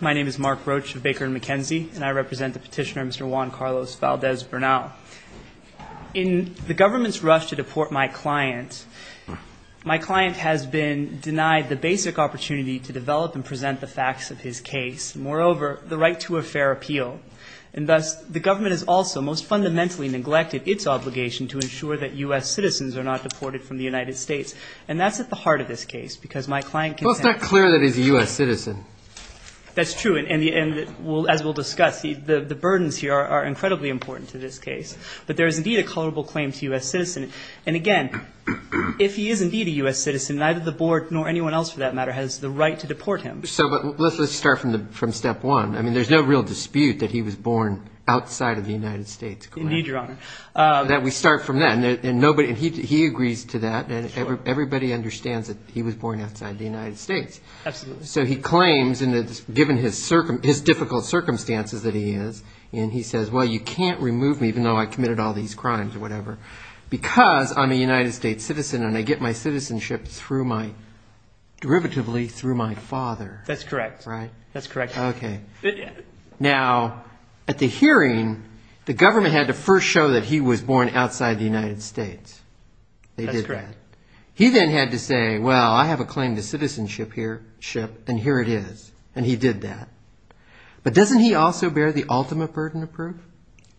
My name is Mark Roach of Baker and Mukasey, and I represent the petitioner, Mr. Juan Carlos Valdez-Bernal. In the government's rush to deport my client, my client has been denied the basic opportunity to develop and present the facts of his case, and moreover, the right to a fair appeal. And thus, the government has also most fundamentally neglected its obligation to ensure that U.S. citizens are not deported from the United States. And that's at the heart of this case, because my client contends— That's true, and as we'll discuss, the burdens here are incredibly important to this case. But there is indeed a culpable claim to U.S. citizen. And again, if he is indeed a U.S. citizen, neither the board nor anyone else, for that matter, has the right to deport him. So let's start from step one. I mean, there's no real dispute that he was born outside of the United States, correct? Indeed, Your Honor. We start from that. And he agrees to that, and everybody understands that he was born outside the United States. Absolutely. So he claims, given his difficult circumstances that he is, and he says, well, you can't remove me, even though I committed all these crimes or whatever, because I'm a United States citizen and I get my citizenship through my—derivatively, through my father. That's correct. Right? That's correct. Okay. Now, at the hearing, the government had to first show that he was born outside the United States. They did that. That's correct. He then had to say, well, I have a claim to citizenship here—ship, and here it is. And he did that. But doesn't he also bear the ultimate burden of proof?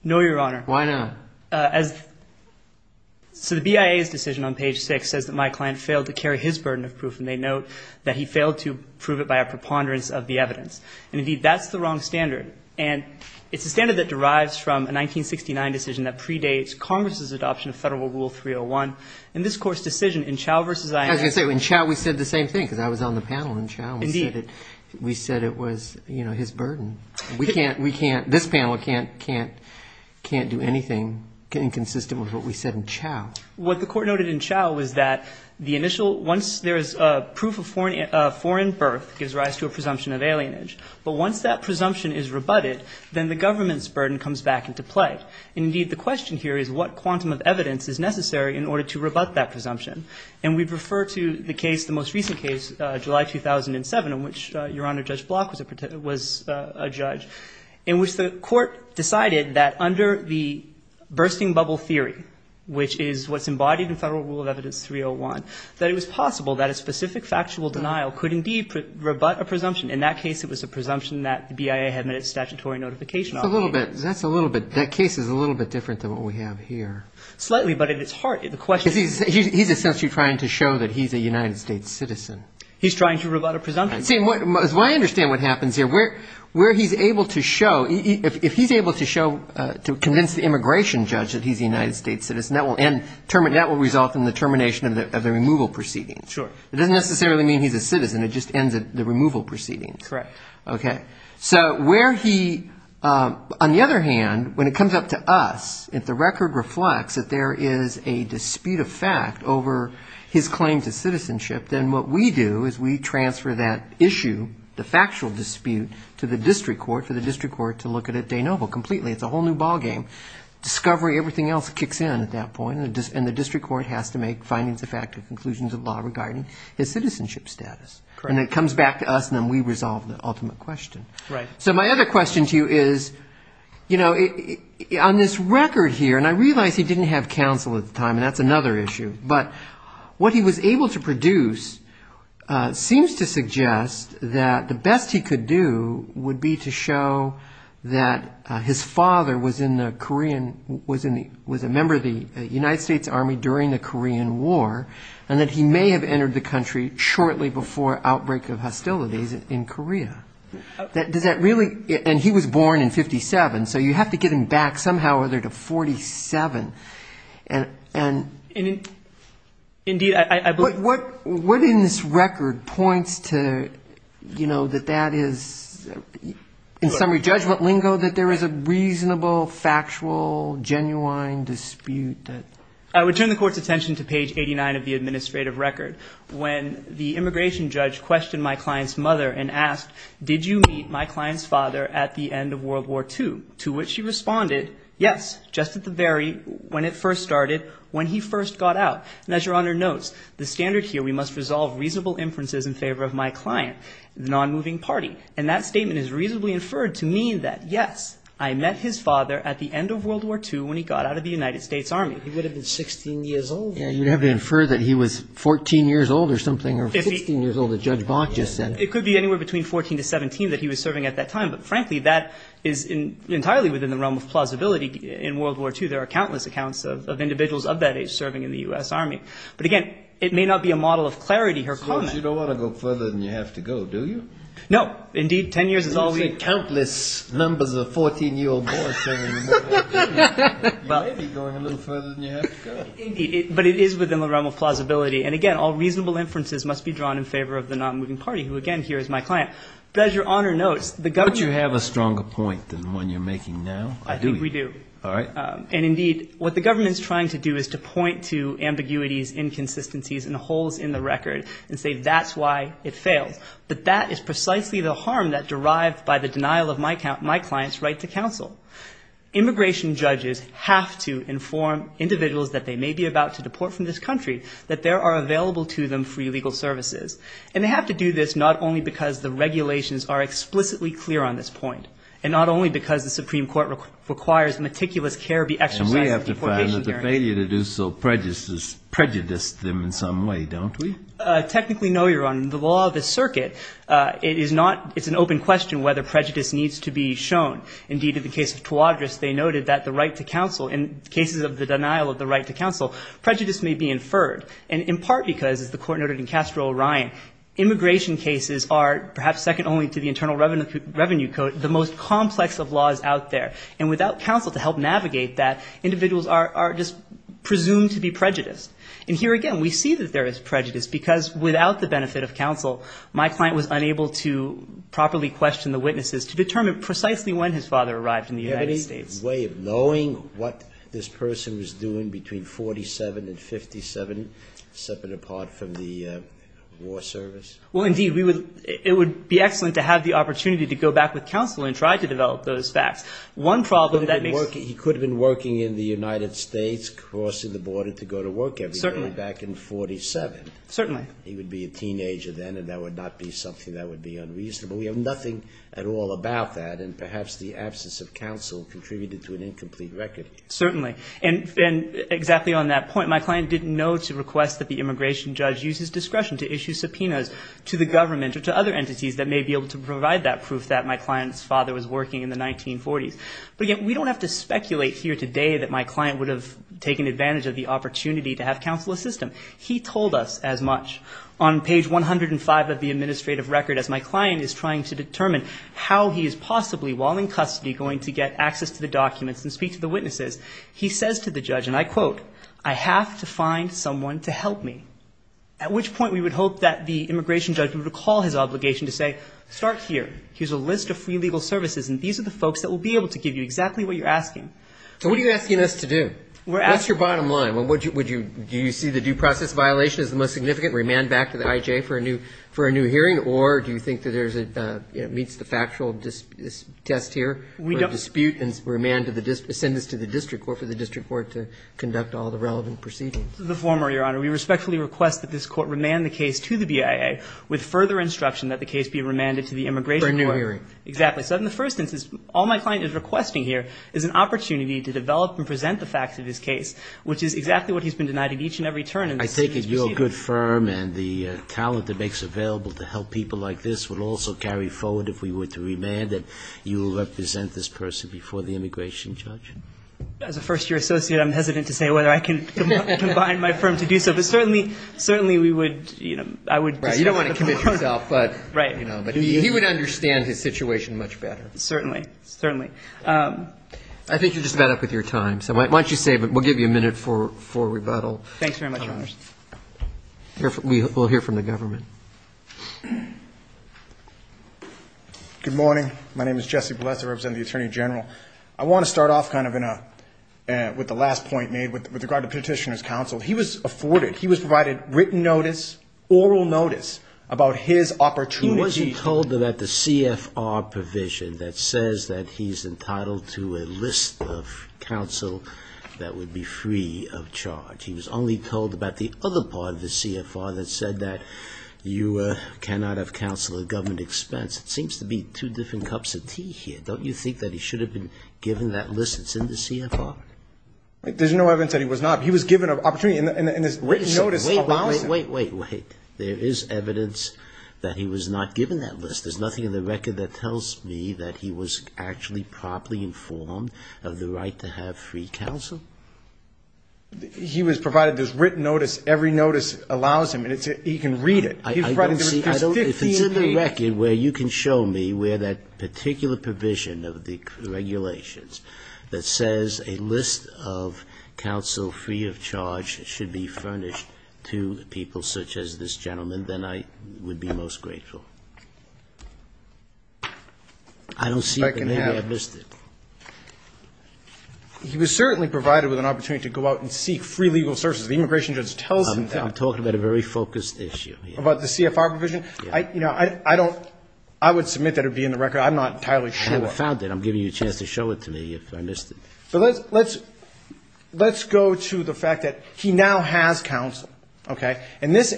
No, Your Honor. Why not? As—so the BIA's decision on page 6 says that my client failed to carry his burden of proof, and they note that he failed to prove it by a preponderance of the evidence. And indeed, that's the wrong standard. And it's a standard that derives from a 1969 decision that predates Congress's adoption of Federal Rule 301. In this Court's decision, in Chau v. I.A.— I was going to say, in Chau we said the same thing, because I was on the panel in Chau. Indeed. We said it was, you know, his burden. We can't—we can't—this panel can't do anything inconsistent with what we said in Chau. What the Court noted in Chau was that the initial—once there is proof of foreign birth, it gives rise to a presumption of alienage. But once that presumption is rebutted, then the government's burden comes back into play. And indeed, the question here is what quantum of evidence is necessary in order to rebut that presumption. And we'd refer to the case, the most recent case, July 2007, in which Your Honor, Judge Block was a judge, in which the Court decided that under the bursting bubble theory, which is what's embodied in Federal Rule of Evidence 301, that it was possible that a specific factual denial could indeed rebut a presumption. In that case, it was a presumption that the BIA had met its statutory notification obligation. That's a little bit—that's a little bit—that case is a little bit different than what we have here. Slightly, but at its heart, the question— Because he's essentially trying to show that he's a United States citizen. He's trying to rebut a presumption. See, as far as I understand what happens here, where he's able to show— if he's able to show—to convince the immigration judge that he's a United States citizen, that will end—that will result in the termination of the removal proceeding. Sure. It doesn't necessarily mean he's a citizen. It just ends the removal proceeding. Correct. So where he—on the other hand, when it comes up to us, if the record reflects that there is a dispute of fact over his claim to citizenship, then what we do is we transfer that issue, the factual dispute, to the district court, for the district court to look at it de novo, completely. It's a whole new ballgame. Discovery, everything else kicks in at that point, and the district court has to make findings effective conclusions of law regarding his citizenship status. Correct. And it comes back to us, and then we resolve the ultimate question. Right. So my other question to you is, you know, on this record here—and I realize he didn't have counsel at the time, and that's another issue—but what he was able to produce seems to suggest that the best he could do would be to show that his father was in the Korean—was a member of the United States Army during the Korean War, and that he may have entered the country shortly before outbreak of hostilities in Korea. Does that really—and he was born in 57, so you have to get him back somehow or other to 47. Indeed, I believe— What in this record points to, you know, that that is—in summary, judgment lingo, that there is a reasonable, factual, genuine dispute that— I would turn the court's attention to page 89 of the administrative record. When the immigration judge questioned my client's mother and asked, did you meet my client's father at the end of World War II? To which she responded, yes, just at the very—when it first started, when he first got out. And as Your Honor notes, the standard here, we must resolve reasonable inferences in favor of my client, the nonmoving party. And that statement is reasonably inferred to mean that, yes, I met his father at the end of World War II when he got out of the United States Army. He would have been 16 years old. You'd have to infer that he was 14 years old or something, or 16 years old, as Judge Bonk just said. It could be anywhere between 14 to 17 that he was serving at that time. But, frankly, that is entirely within the realm of plausibility. In World War II, there are countless accounts of individuals of that age serving in the U.S. Army. But, again, it may not be a model of clarity her comment— So you don't want to go further than you have to go, do you? No. Indeed, 10 years is all we— You say countless numbers of 14-year-old boys serving in the U.S. Army. You may be going a little further than you have to go. But it is within the realm of plausibility. And, again, all reasonable inferences must be drawn in favor of the non-moving party, who, again, here is my client. But, as Your Honor notes, the government— Don't you have a stronger point than the one you're making now? I do. I think we do. All right. And, indeed, what the government is trying to do is to point to ambiguities, inconsistencies, and holes in the record and say that's why it failed. But that is precisely the harm that derived by the denial of my client's right to counsel. Immigration judges have to inform individuals that they may be about to deport from this country that there are available to them free legal services. And they have to do this not only because the regulations are explicitly clear on this point and not only because the Supreme Court requires meticulous care be exercised in deportation hearings— And we have to find another failure to do so prejudiced them in some way, don't we? Technically, no, Your Honor. In the law of the circuit, it is not—it's an open question whether prejudice needs to be shown. Indeed, in the case of Tuadris, they noted that the right to counsel, in cases of the denial of the right to counsel, prejudice may be inferred. And in part because, as the Court noted in Castro-Orion, immigration cases are, perhaps second only to the Internal Revenue Code, the most complex of laws out there. And without counsel to help navigate that, individuals are just presumed to be prejudiced. And here again, we see that there is prejudice because without the benefit of counsel, my client was unable to properly question the witnesses to determine precisely when his father arrived in the United States. Do you have any way of knowing what this person was doing between 1947 and 1957, separate apart from the war service? Well, indeed, we would—it would be excellent to have the opportunity to go back with counsel and try to develop those facts. One problem that makes— He could have been working in the United States, crossing the border to go to work every day back in 1947. Certainly. He would be a teenager then, and that would not be something that would be unreasonable. We have nothing at all about that, and perhaps the absence of counsel contributed to an incomplete record. Certainly. And exactly on that point, my client didn't know to request that the immigration judge use his discretion to issue subpoenas to the government or to other entities that may be able to provide that proof that my client's father was working in the 1940s. But again, we don't have to speculate here today that my client would have taken advantage of the opportunity to have counsel assist him. He told us as much. On page 105 of the administrative record, as my client is trying to determine how he is possibly, while in custody, going to get access to the documents and speak to the witnesses, he says to the judge, and I quote, I have to find someone to help me, at which point we would hope that the immigration judge would recall his obligation to say, start here. Here's a list of free legal services, and these are the folks that will be able to give you exactly what you're asking. So what are you asking us to do? We're asking— What's your bottom line? Do you see the due process violation as the most significant? Remand back to the I.J. for a new hearing? Or do you think that there's a—meets the factual test here? We don't— For a dispute and remand to the—a sentence to the district court for the district court to conduct all the relevant proceedings. The former, Your Honor. We respectfully request that this Court remand the case to the BIA with further instruction that the case be remanded to the immigration court. For a new hearing. Exactly. So in the first instance, all my client is requesting here is an opportunity to develop and present the facts of his case, which is exactly what he's been denied at each and every turn in this case. I take it your good firm and the talent it makes available to help people like this would also carry forward, if we were to remand it, you will represent this person before the immigration judge? As a first-year associate, I'm hesitant to say whether I can combine my firm to do so. But certainly, certainly we would, you know, I would— Right. You don't want to commit yourself, but— Right. You know, but he would understand his situation much better. Certainly. Certainly. I think you're just about up with your time. So why don't you save it? We'll give you a minute for rebuttal. Thanks very much, Your Honors. We'll hear from the government. Good morning. My name is Jesse Bolesa. I represent the Attorney General. I want to start off kind of in a, with the last point made with regard to Petitioner's Counsel. He was afforded, he was provided written notice, oral notice about his opportunity. He wasn't told about the CFR provision that says that he's entitled to a list of counsel that would be free of charge. He was only told about the other part of the CFR that said that you cannot have counsel at government expense. It seems to be two different cups of tea here. Don't you think that he should have been given that list that's in the CFR? There's no evidence that he was not. He was given an opportunity in his written notice— Wait, wait, wait, wait. There is evidence that he was not given that list. There's nothing in the record that tells me that he was actually properly informed of the right to have free counsel? He was provided this written notice. Every notice allows him, and he can read it. I don't see, I don't, if it's in the record where you can show me where that particular provision of the regulations that says a list of counsel free of charge should be furnished to people such as this gentleman, then I would be most grateful. I don't see it, but maybe I missed it. He was certainly provided with an opportunity to go out and seek free legal services. The immigration judge tells him that. I'm talking about a very focused issue. About the CFR provision? Yes. You know, I don't, I would submit that it would be in the record. I'm not entirely sure. I haven't found it. I'm giving you a chance to show it to me if I missed it. So let's go to the fact that he now has counsel, okay? And this,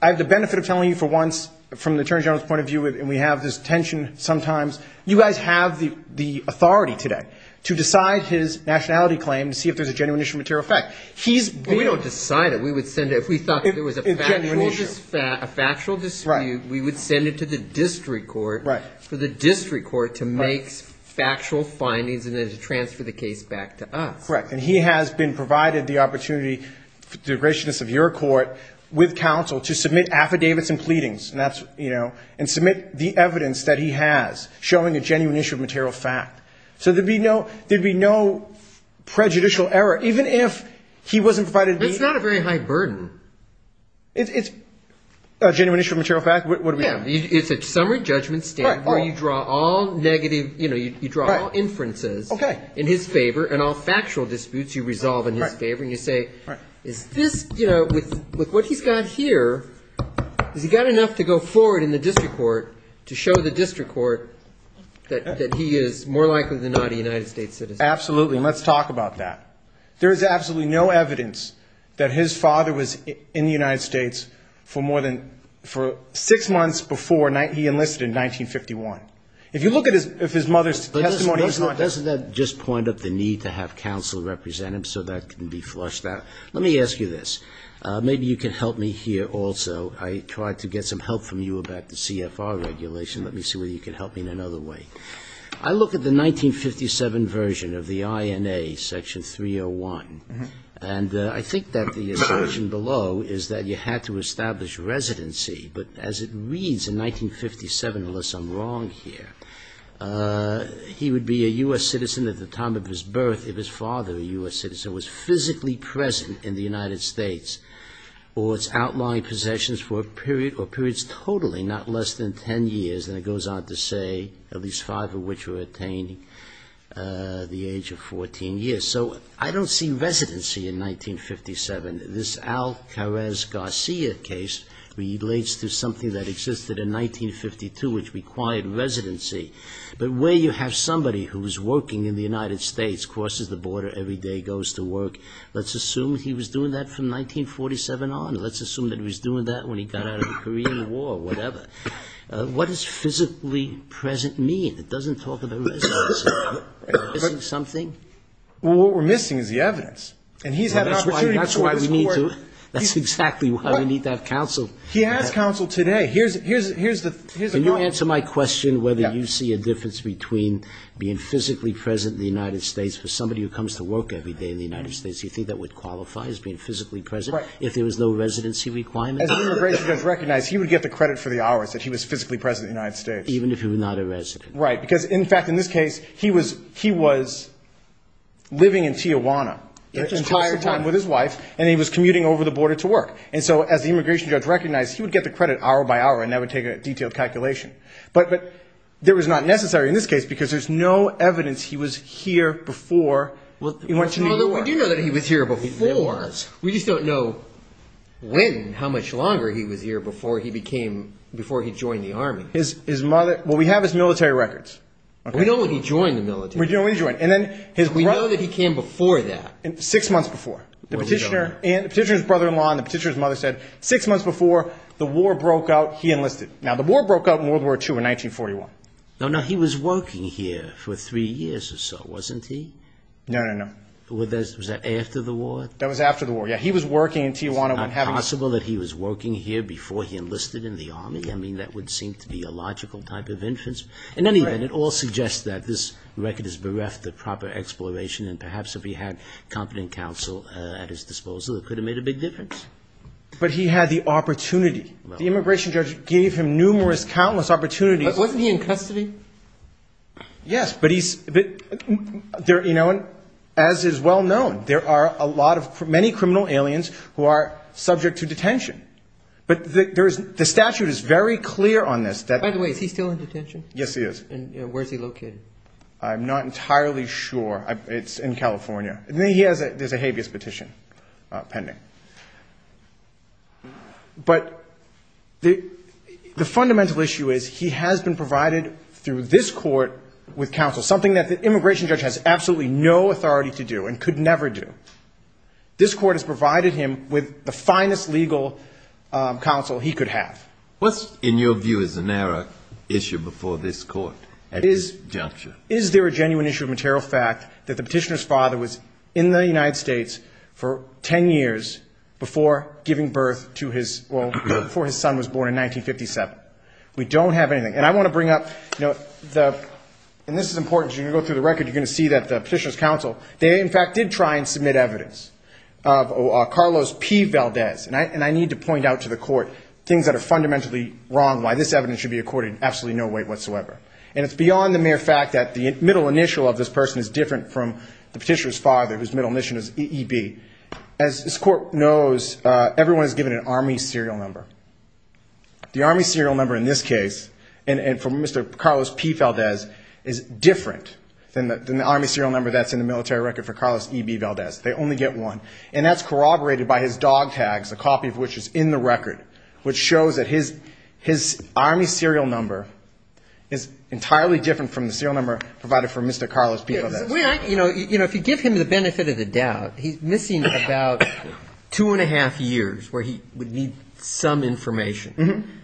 I have the benefit of telling you for once, from the Attorney General's point of view, and we have this tension sometimes, you guys have the authority today to decide his nationality claim to see if there's a genuine issue of material effect. Right. We don't decide it. We would send it. If we thought there was a factual dispute, we would send it to the district court. Right. For the district court to make factual findings and then to transfer the case back to us. Correct. And he has been provided the opportunity, the graciousness of your court, with counsel to submit affidavits and pleadings, and that's, you know, and submit the evidence that he has showing a genuine issue of material fact. So there would be no prejudicial error, even if he wasn't provided. It's not a very high burden. It's a genuine issue of material fact? What do we have? It's a summary judgment stand where you draw all negative, you know, you draw all inferences in his favor and all factual disputes you resolve in his favor, and you say, is this, you know, with what he's got here, has he got enough to go forward in the district court to show the district court that he is more likely than not a United States citizen? Absolutely, and let's talk about that. There is absolutely no evidence that his father was in the United States for more than, for six months before he enlisted in 1951. If you look at his mother's testimony. Doesn't that just point up the need to have counsel represent him so that can be flushed out? Let me ask you this. Maybe you can help me here also. I tried to get some help from you about the CFR regulation. Let me see whether you can help me in another way. I look at the 1957 version of the INA section 301, and I think that the assumption below is that you had to establish residency, but as it reads in 1957, unless I'm wrong here, he would be a U.S. citizen at the time of his birth if his father, a U.S. citizen, was physically present in the United States or its outlying possessions for a period or periods totally, not less than 10 years. And it goes on to say at least five of which were attained at the age of 14 years. So I don't see residency in 1957. This Al Jarrez Garcia case relates to something that existed in 1952 which required residency. But where you have somebody who is working in the United States, crosses the border every day, goes to work, let's assume he was doing that from 1947 on. Let's assume that he was doing that when he got out of the Korean War or whatever. What does physically present mean? It doesn't talk about residency. Is it something? Well, what we're missing is the evidence. And he's had an opportunity to provide support. That's exactly why we need to have counsel. He has counsel today. Here's the point. Can you answer my question whether you see a difference between being physically present in the United States for somebody who comes to work every day in the United States, you think that would qualify as being physically present if there was no residency requirement? As the immigration judge recognized, he would get the credit for the hours that he was physically present in the United States. Even if he were not a resident. Right. Because, in fact, in this case, he was living in Tijuana the entire time with his wife, and he was commuting over the border to work. And so as the immigration judge recognized, he would get the credit hour by hour, and that would take a detailed calculation. But that was not necessary in this case because there's no evidence he was here before he went to New York. Well, we do know that he was here before. We just don't know when, how much longer he was here before he joined the Army. Well, we have his military records. We know when he joined the military. We know when he joined. We know that he came before that. Six months before. The petitioner's brother-in-law and the petitioner's mother said six months before the war broke out, he enlisted. Now, the war broke out in World War II in 1941. Now, he was working here for three years or so, wasn't he? No, no, no. Was that after the war? That was after the war, yeah. He was working in Tijuana. It's not possible that he was working here before he enlisted in the Army. I mean, that would seem to be a logical type of inference. In any event, it all suggests that this record is bereft of proper exploration, and perhaps if he had competent counsel at his disposal, it could have made a big difference. But he had the opportunity. The immigration judge gave him numerous, countless opportunities. Wasn't he in custody? Yes, but he's, you know, as is well known, there are many criminal aliens who are subject to detention. But the statute is very clear on this. By the way, is he still in detention? Yes, he is. And where is he located? I'm not entirely sure. It's in California. There's a habeas petition pending. But the fundamental issue is he has been provided through this court with counsel, something that the immigration judge has absolutely no authority to do and could never do. This court has provided him with the finest legal counsel he could have. What's, in your view, is the narrow issue before this court at this juncture? Is there a genuine issue of material fact that the petitioner's father was in the United States for 10 years before giving birth to his, well, before his son was born in 1957? We don't have anything. And I want to bring up, you know, and this is important. As you go through the record, you're going to see that the petitioner's counsel, they in fact did try and submit evidence of Carlos P. Valdez. And I need to point out to the court things that are fundamentally wrong, why this evidence should be accorded absolutely no weight whatsoever. And it's beyond the mere fact that the middle initial of this person is different from the petitioner's father, whose middle initial is EB. As this court knows, everyone is given an Army serial number. The Army serial number in this case, and for Mr. Carlos P. Valdez, is different than the Army serial number that's in the military record for Carlos EB Valdez. They only get one. And that's corroborated by his dog tags, a copy of which is in the record, which shows that his Army serial number is entirely different from the serial number provided for Mr. Carlos P. Valdez. If you give him the benefit of the doubt, he's missing about two and a half years where he would need some information.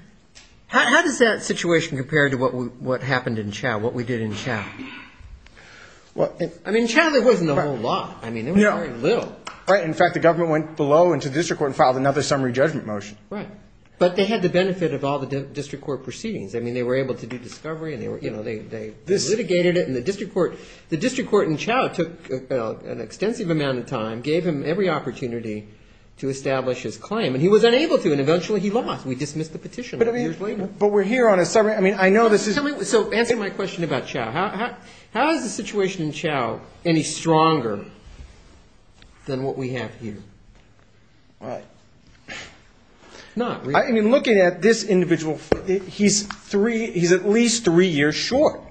How does that situation compare to what happened in Chao, what we did in Chao? I mean, in Chao there wasn't a whole lot. I mean, there was very little. Right. In fact, the government went below and to the district court and filed another summary judgment motion. Right. But they had the benefit of all the district court proceedings. I mean, they were able to do discovery and they litigated it. And the district court in Chao took an extensive amount of time, gave him every opportunity to establish his claim. And he was unable to. And eventually he lost. We dismissed the petition a few years later. But we're here on a summary. I mean, I know this is. So answer my question about Chao. How is the situation in Chao any stronger than what we have here? All right. I mean, looking at this individual, he's at least three years short.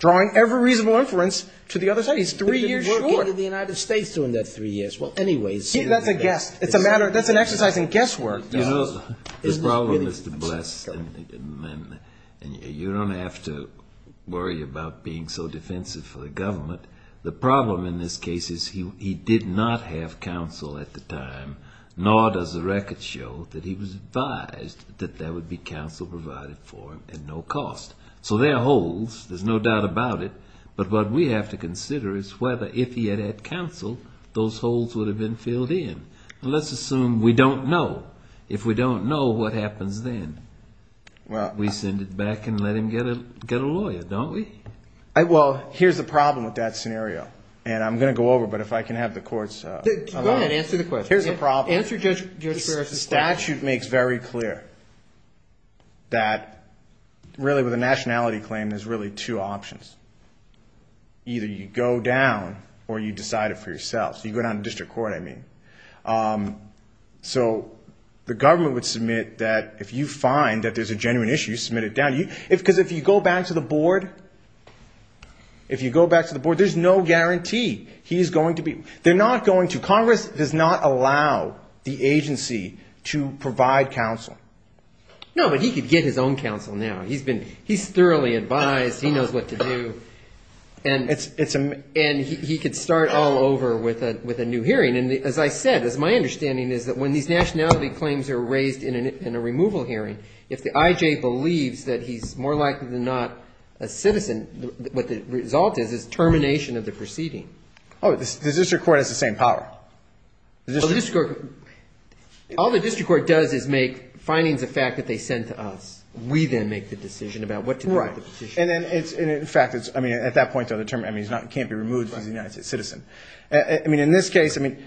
Drawing every reasonable inference to the other side. He's three years short. He didn't work in the United States during that three years. Well, anyways. That's a guess. It's a matter of an exercise in guesswork. You know, the problem is to bless and you don't have to worry about being so defensive for the government. The problem in this case is he did not have counsel at the time, nor does the record show that he was advised that there would be counsel provided for him at no cost. So there are holes. There's no doubt about it. But what we have to consider is whether if he had had counsel, those holes would have been filled in. Let's assume we don't know. If we don't know, what happens then? We send it back and let him get a lawyer, don't we? Well, here's the problem with that scenario. And I'm going to go over, but if I can have the courts allow it. Answer the question. Here's the problem. Answer Judge Ferris' question. The statute makes very clear that really with a nationality claim, there's really two options. Either you go down or you decide it for yourself. So you go down to district court, I mean. So the government would submit that if you find that there's a genuine issue, you submit it down. Because if you go back to the board, if you go back to the board, there's no guarantee he's going to be. They're not going to. Congress does not allow the agency to provide counsel. No, but he could get his own counsel now. He's thoroughly advised. He knows what to do. And he could start all over with a new hearing. And as I said, my understanding is that when these nationality claims are raised in a removal hearing, if the I.J. believes that he's more likely than not a citizen, what the result is is termination of the proceeding. Oh, the district court has the same power. Well, the district court. All the district court does is make findings of fact that they send to us. We then make the decision about what to do with the petition. Right. And then it's, in fact, it's, I mean, at that point they'll determine he can't be removed because he's a citizen. I mean, in this case, I mean,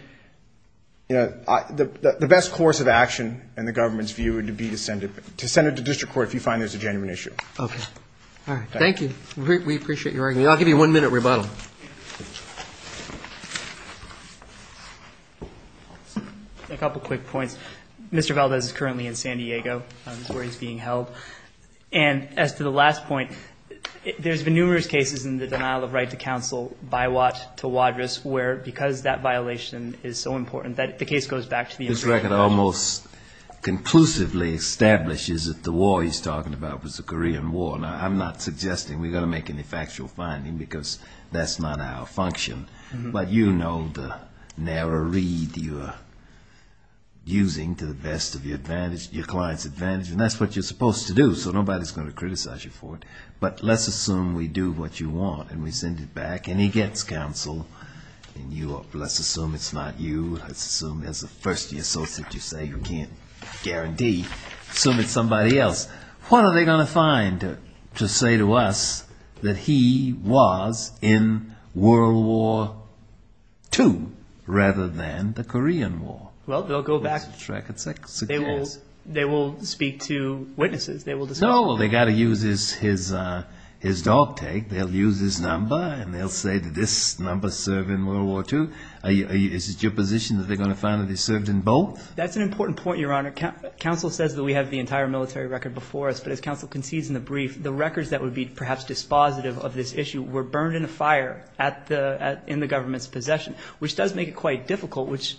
you know, the best course of action in the government's view would be to send it, to send it to district court if you find there's a genuine issue. Okay. All right. Thank you. We appreciate your argument. I'll give you one minute rebuttal. Thank you. A couple quick points. Mr. Valdez is currently in San Diego. That's where he's being held. And as to the last point, there's been numerous cases in the denial of right to counsel by Watt to Wadriss where, because that violation is so important, that the case goes back to the American version. This record almost conclusively establishes that the war he's talking about was the Korean War. Now, I'm not suggesting we're going to make any factual finding because that's not our function. But you know the narrow read you're using to the best of your advantage, your client's advantage, and that's what you're supposed to do. So nobody's going to criticize you for it. But let's assume we do what you want and we send it back and he gets counsel. And you, let's assume it's not you. Let's assume there's a first year associate you say you can't guarantee. Assume it's somebody else. What are they going to find to say to us that he was in World War II rather than the Korean War? Well, they'll go back. They will speak to witnesses. No, they've got to use his dog tag. They'll use his number and they'll say, did this number serve in World War II? Is it your position that they're going to find that he served in both? That's an important point, Your Honor. Counsel says that we have the entire military record before us. But as counsel concedes in the brief, the records that would be perhaps dispositive of this issue were burned in a fire in the government's possession, which does make it quite difficult, which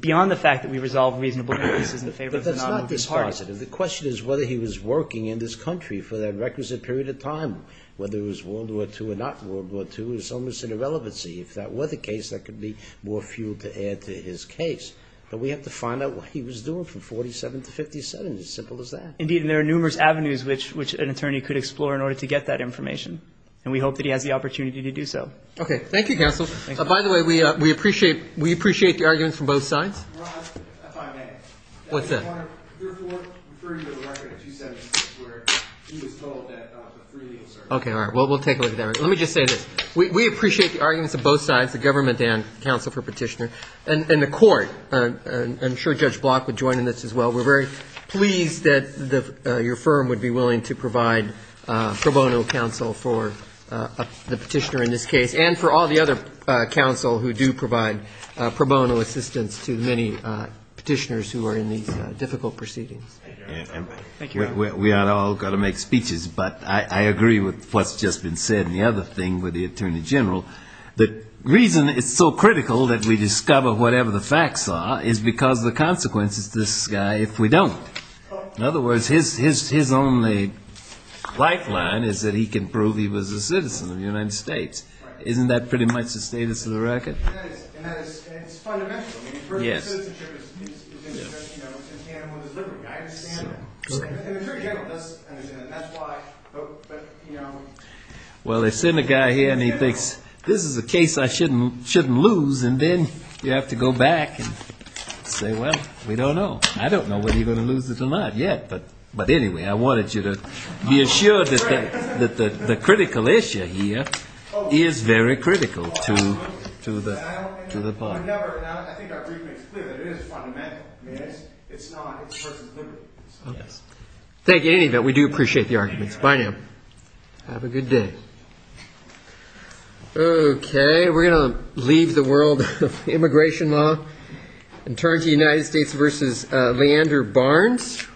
beyond the fact that we resolve reasonable cases in favor of the non-armed parties. But that's not dispositive. The question is whether he was working in this country for that requisite period of time. Whether it was World War II or not World War II is almost an irrelevancy. If that were the case, that could be more fuel to add to his case. But we have to find out what he was doing from 47 to 57. It's as simple as that. Indeed. And there are numerous avenues which an attorney could explore in order to get that information. And we hope that he has the opportunity to do so. Okay. Thank you, counsel. By the way, we appreciate the arguments from both sides. Your Honor, if I may. What's that? I want to therefore refer you to the record of 276 where he was told that the three meals served. Okay. All right. Well, we'll take a look at that. Let me just say this. We appreciate the arguments of both sides, the government and counsel for petitioner, and the court. I'm sure Judge Block would join in this as well. We're very pleased that your firm would be willing to provide pro bono counsel for the petitioner in this case and for all the other counsel who do provide pro bono assistance to many petitioners who are in these difficult proceedings. Thank you, Your Honor. We are all going to make speeches, but I agree with what's just been said. And the other thing with the Attorney General, the reason it's so critical that we discover whatever the facts are is because of the consequences to this guy if we don't. In other words, his only white line is that he can prove he was a citizen of the United States. Isn't that pretty much the status of the record? And that is. And it's fundamental. Yes. I mean, first, citizenship is in tandem with his liberty. I understand that. And the Attorney General doesn't understand that. That's why. Well, they send a guy here and he thinks, this is a case I shouldn't lose. And then you have to go back and say, well, we don't know. I don't know whether he's going to lose it or not yet. But anyway, I wanted you to be assured that the critical issue here is very critical to the part. I think our brief makes clear that it is fundamental. It's not. It's a person's liberty. Thank you. In any event, we do appreciate the arguments. Bye now. Have a good day. Okay. We're going to leave the world of immigration law and turn to United States v. Leander Barnes.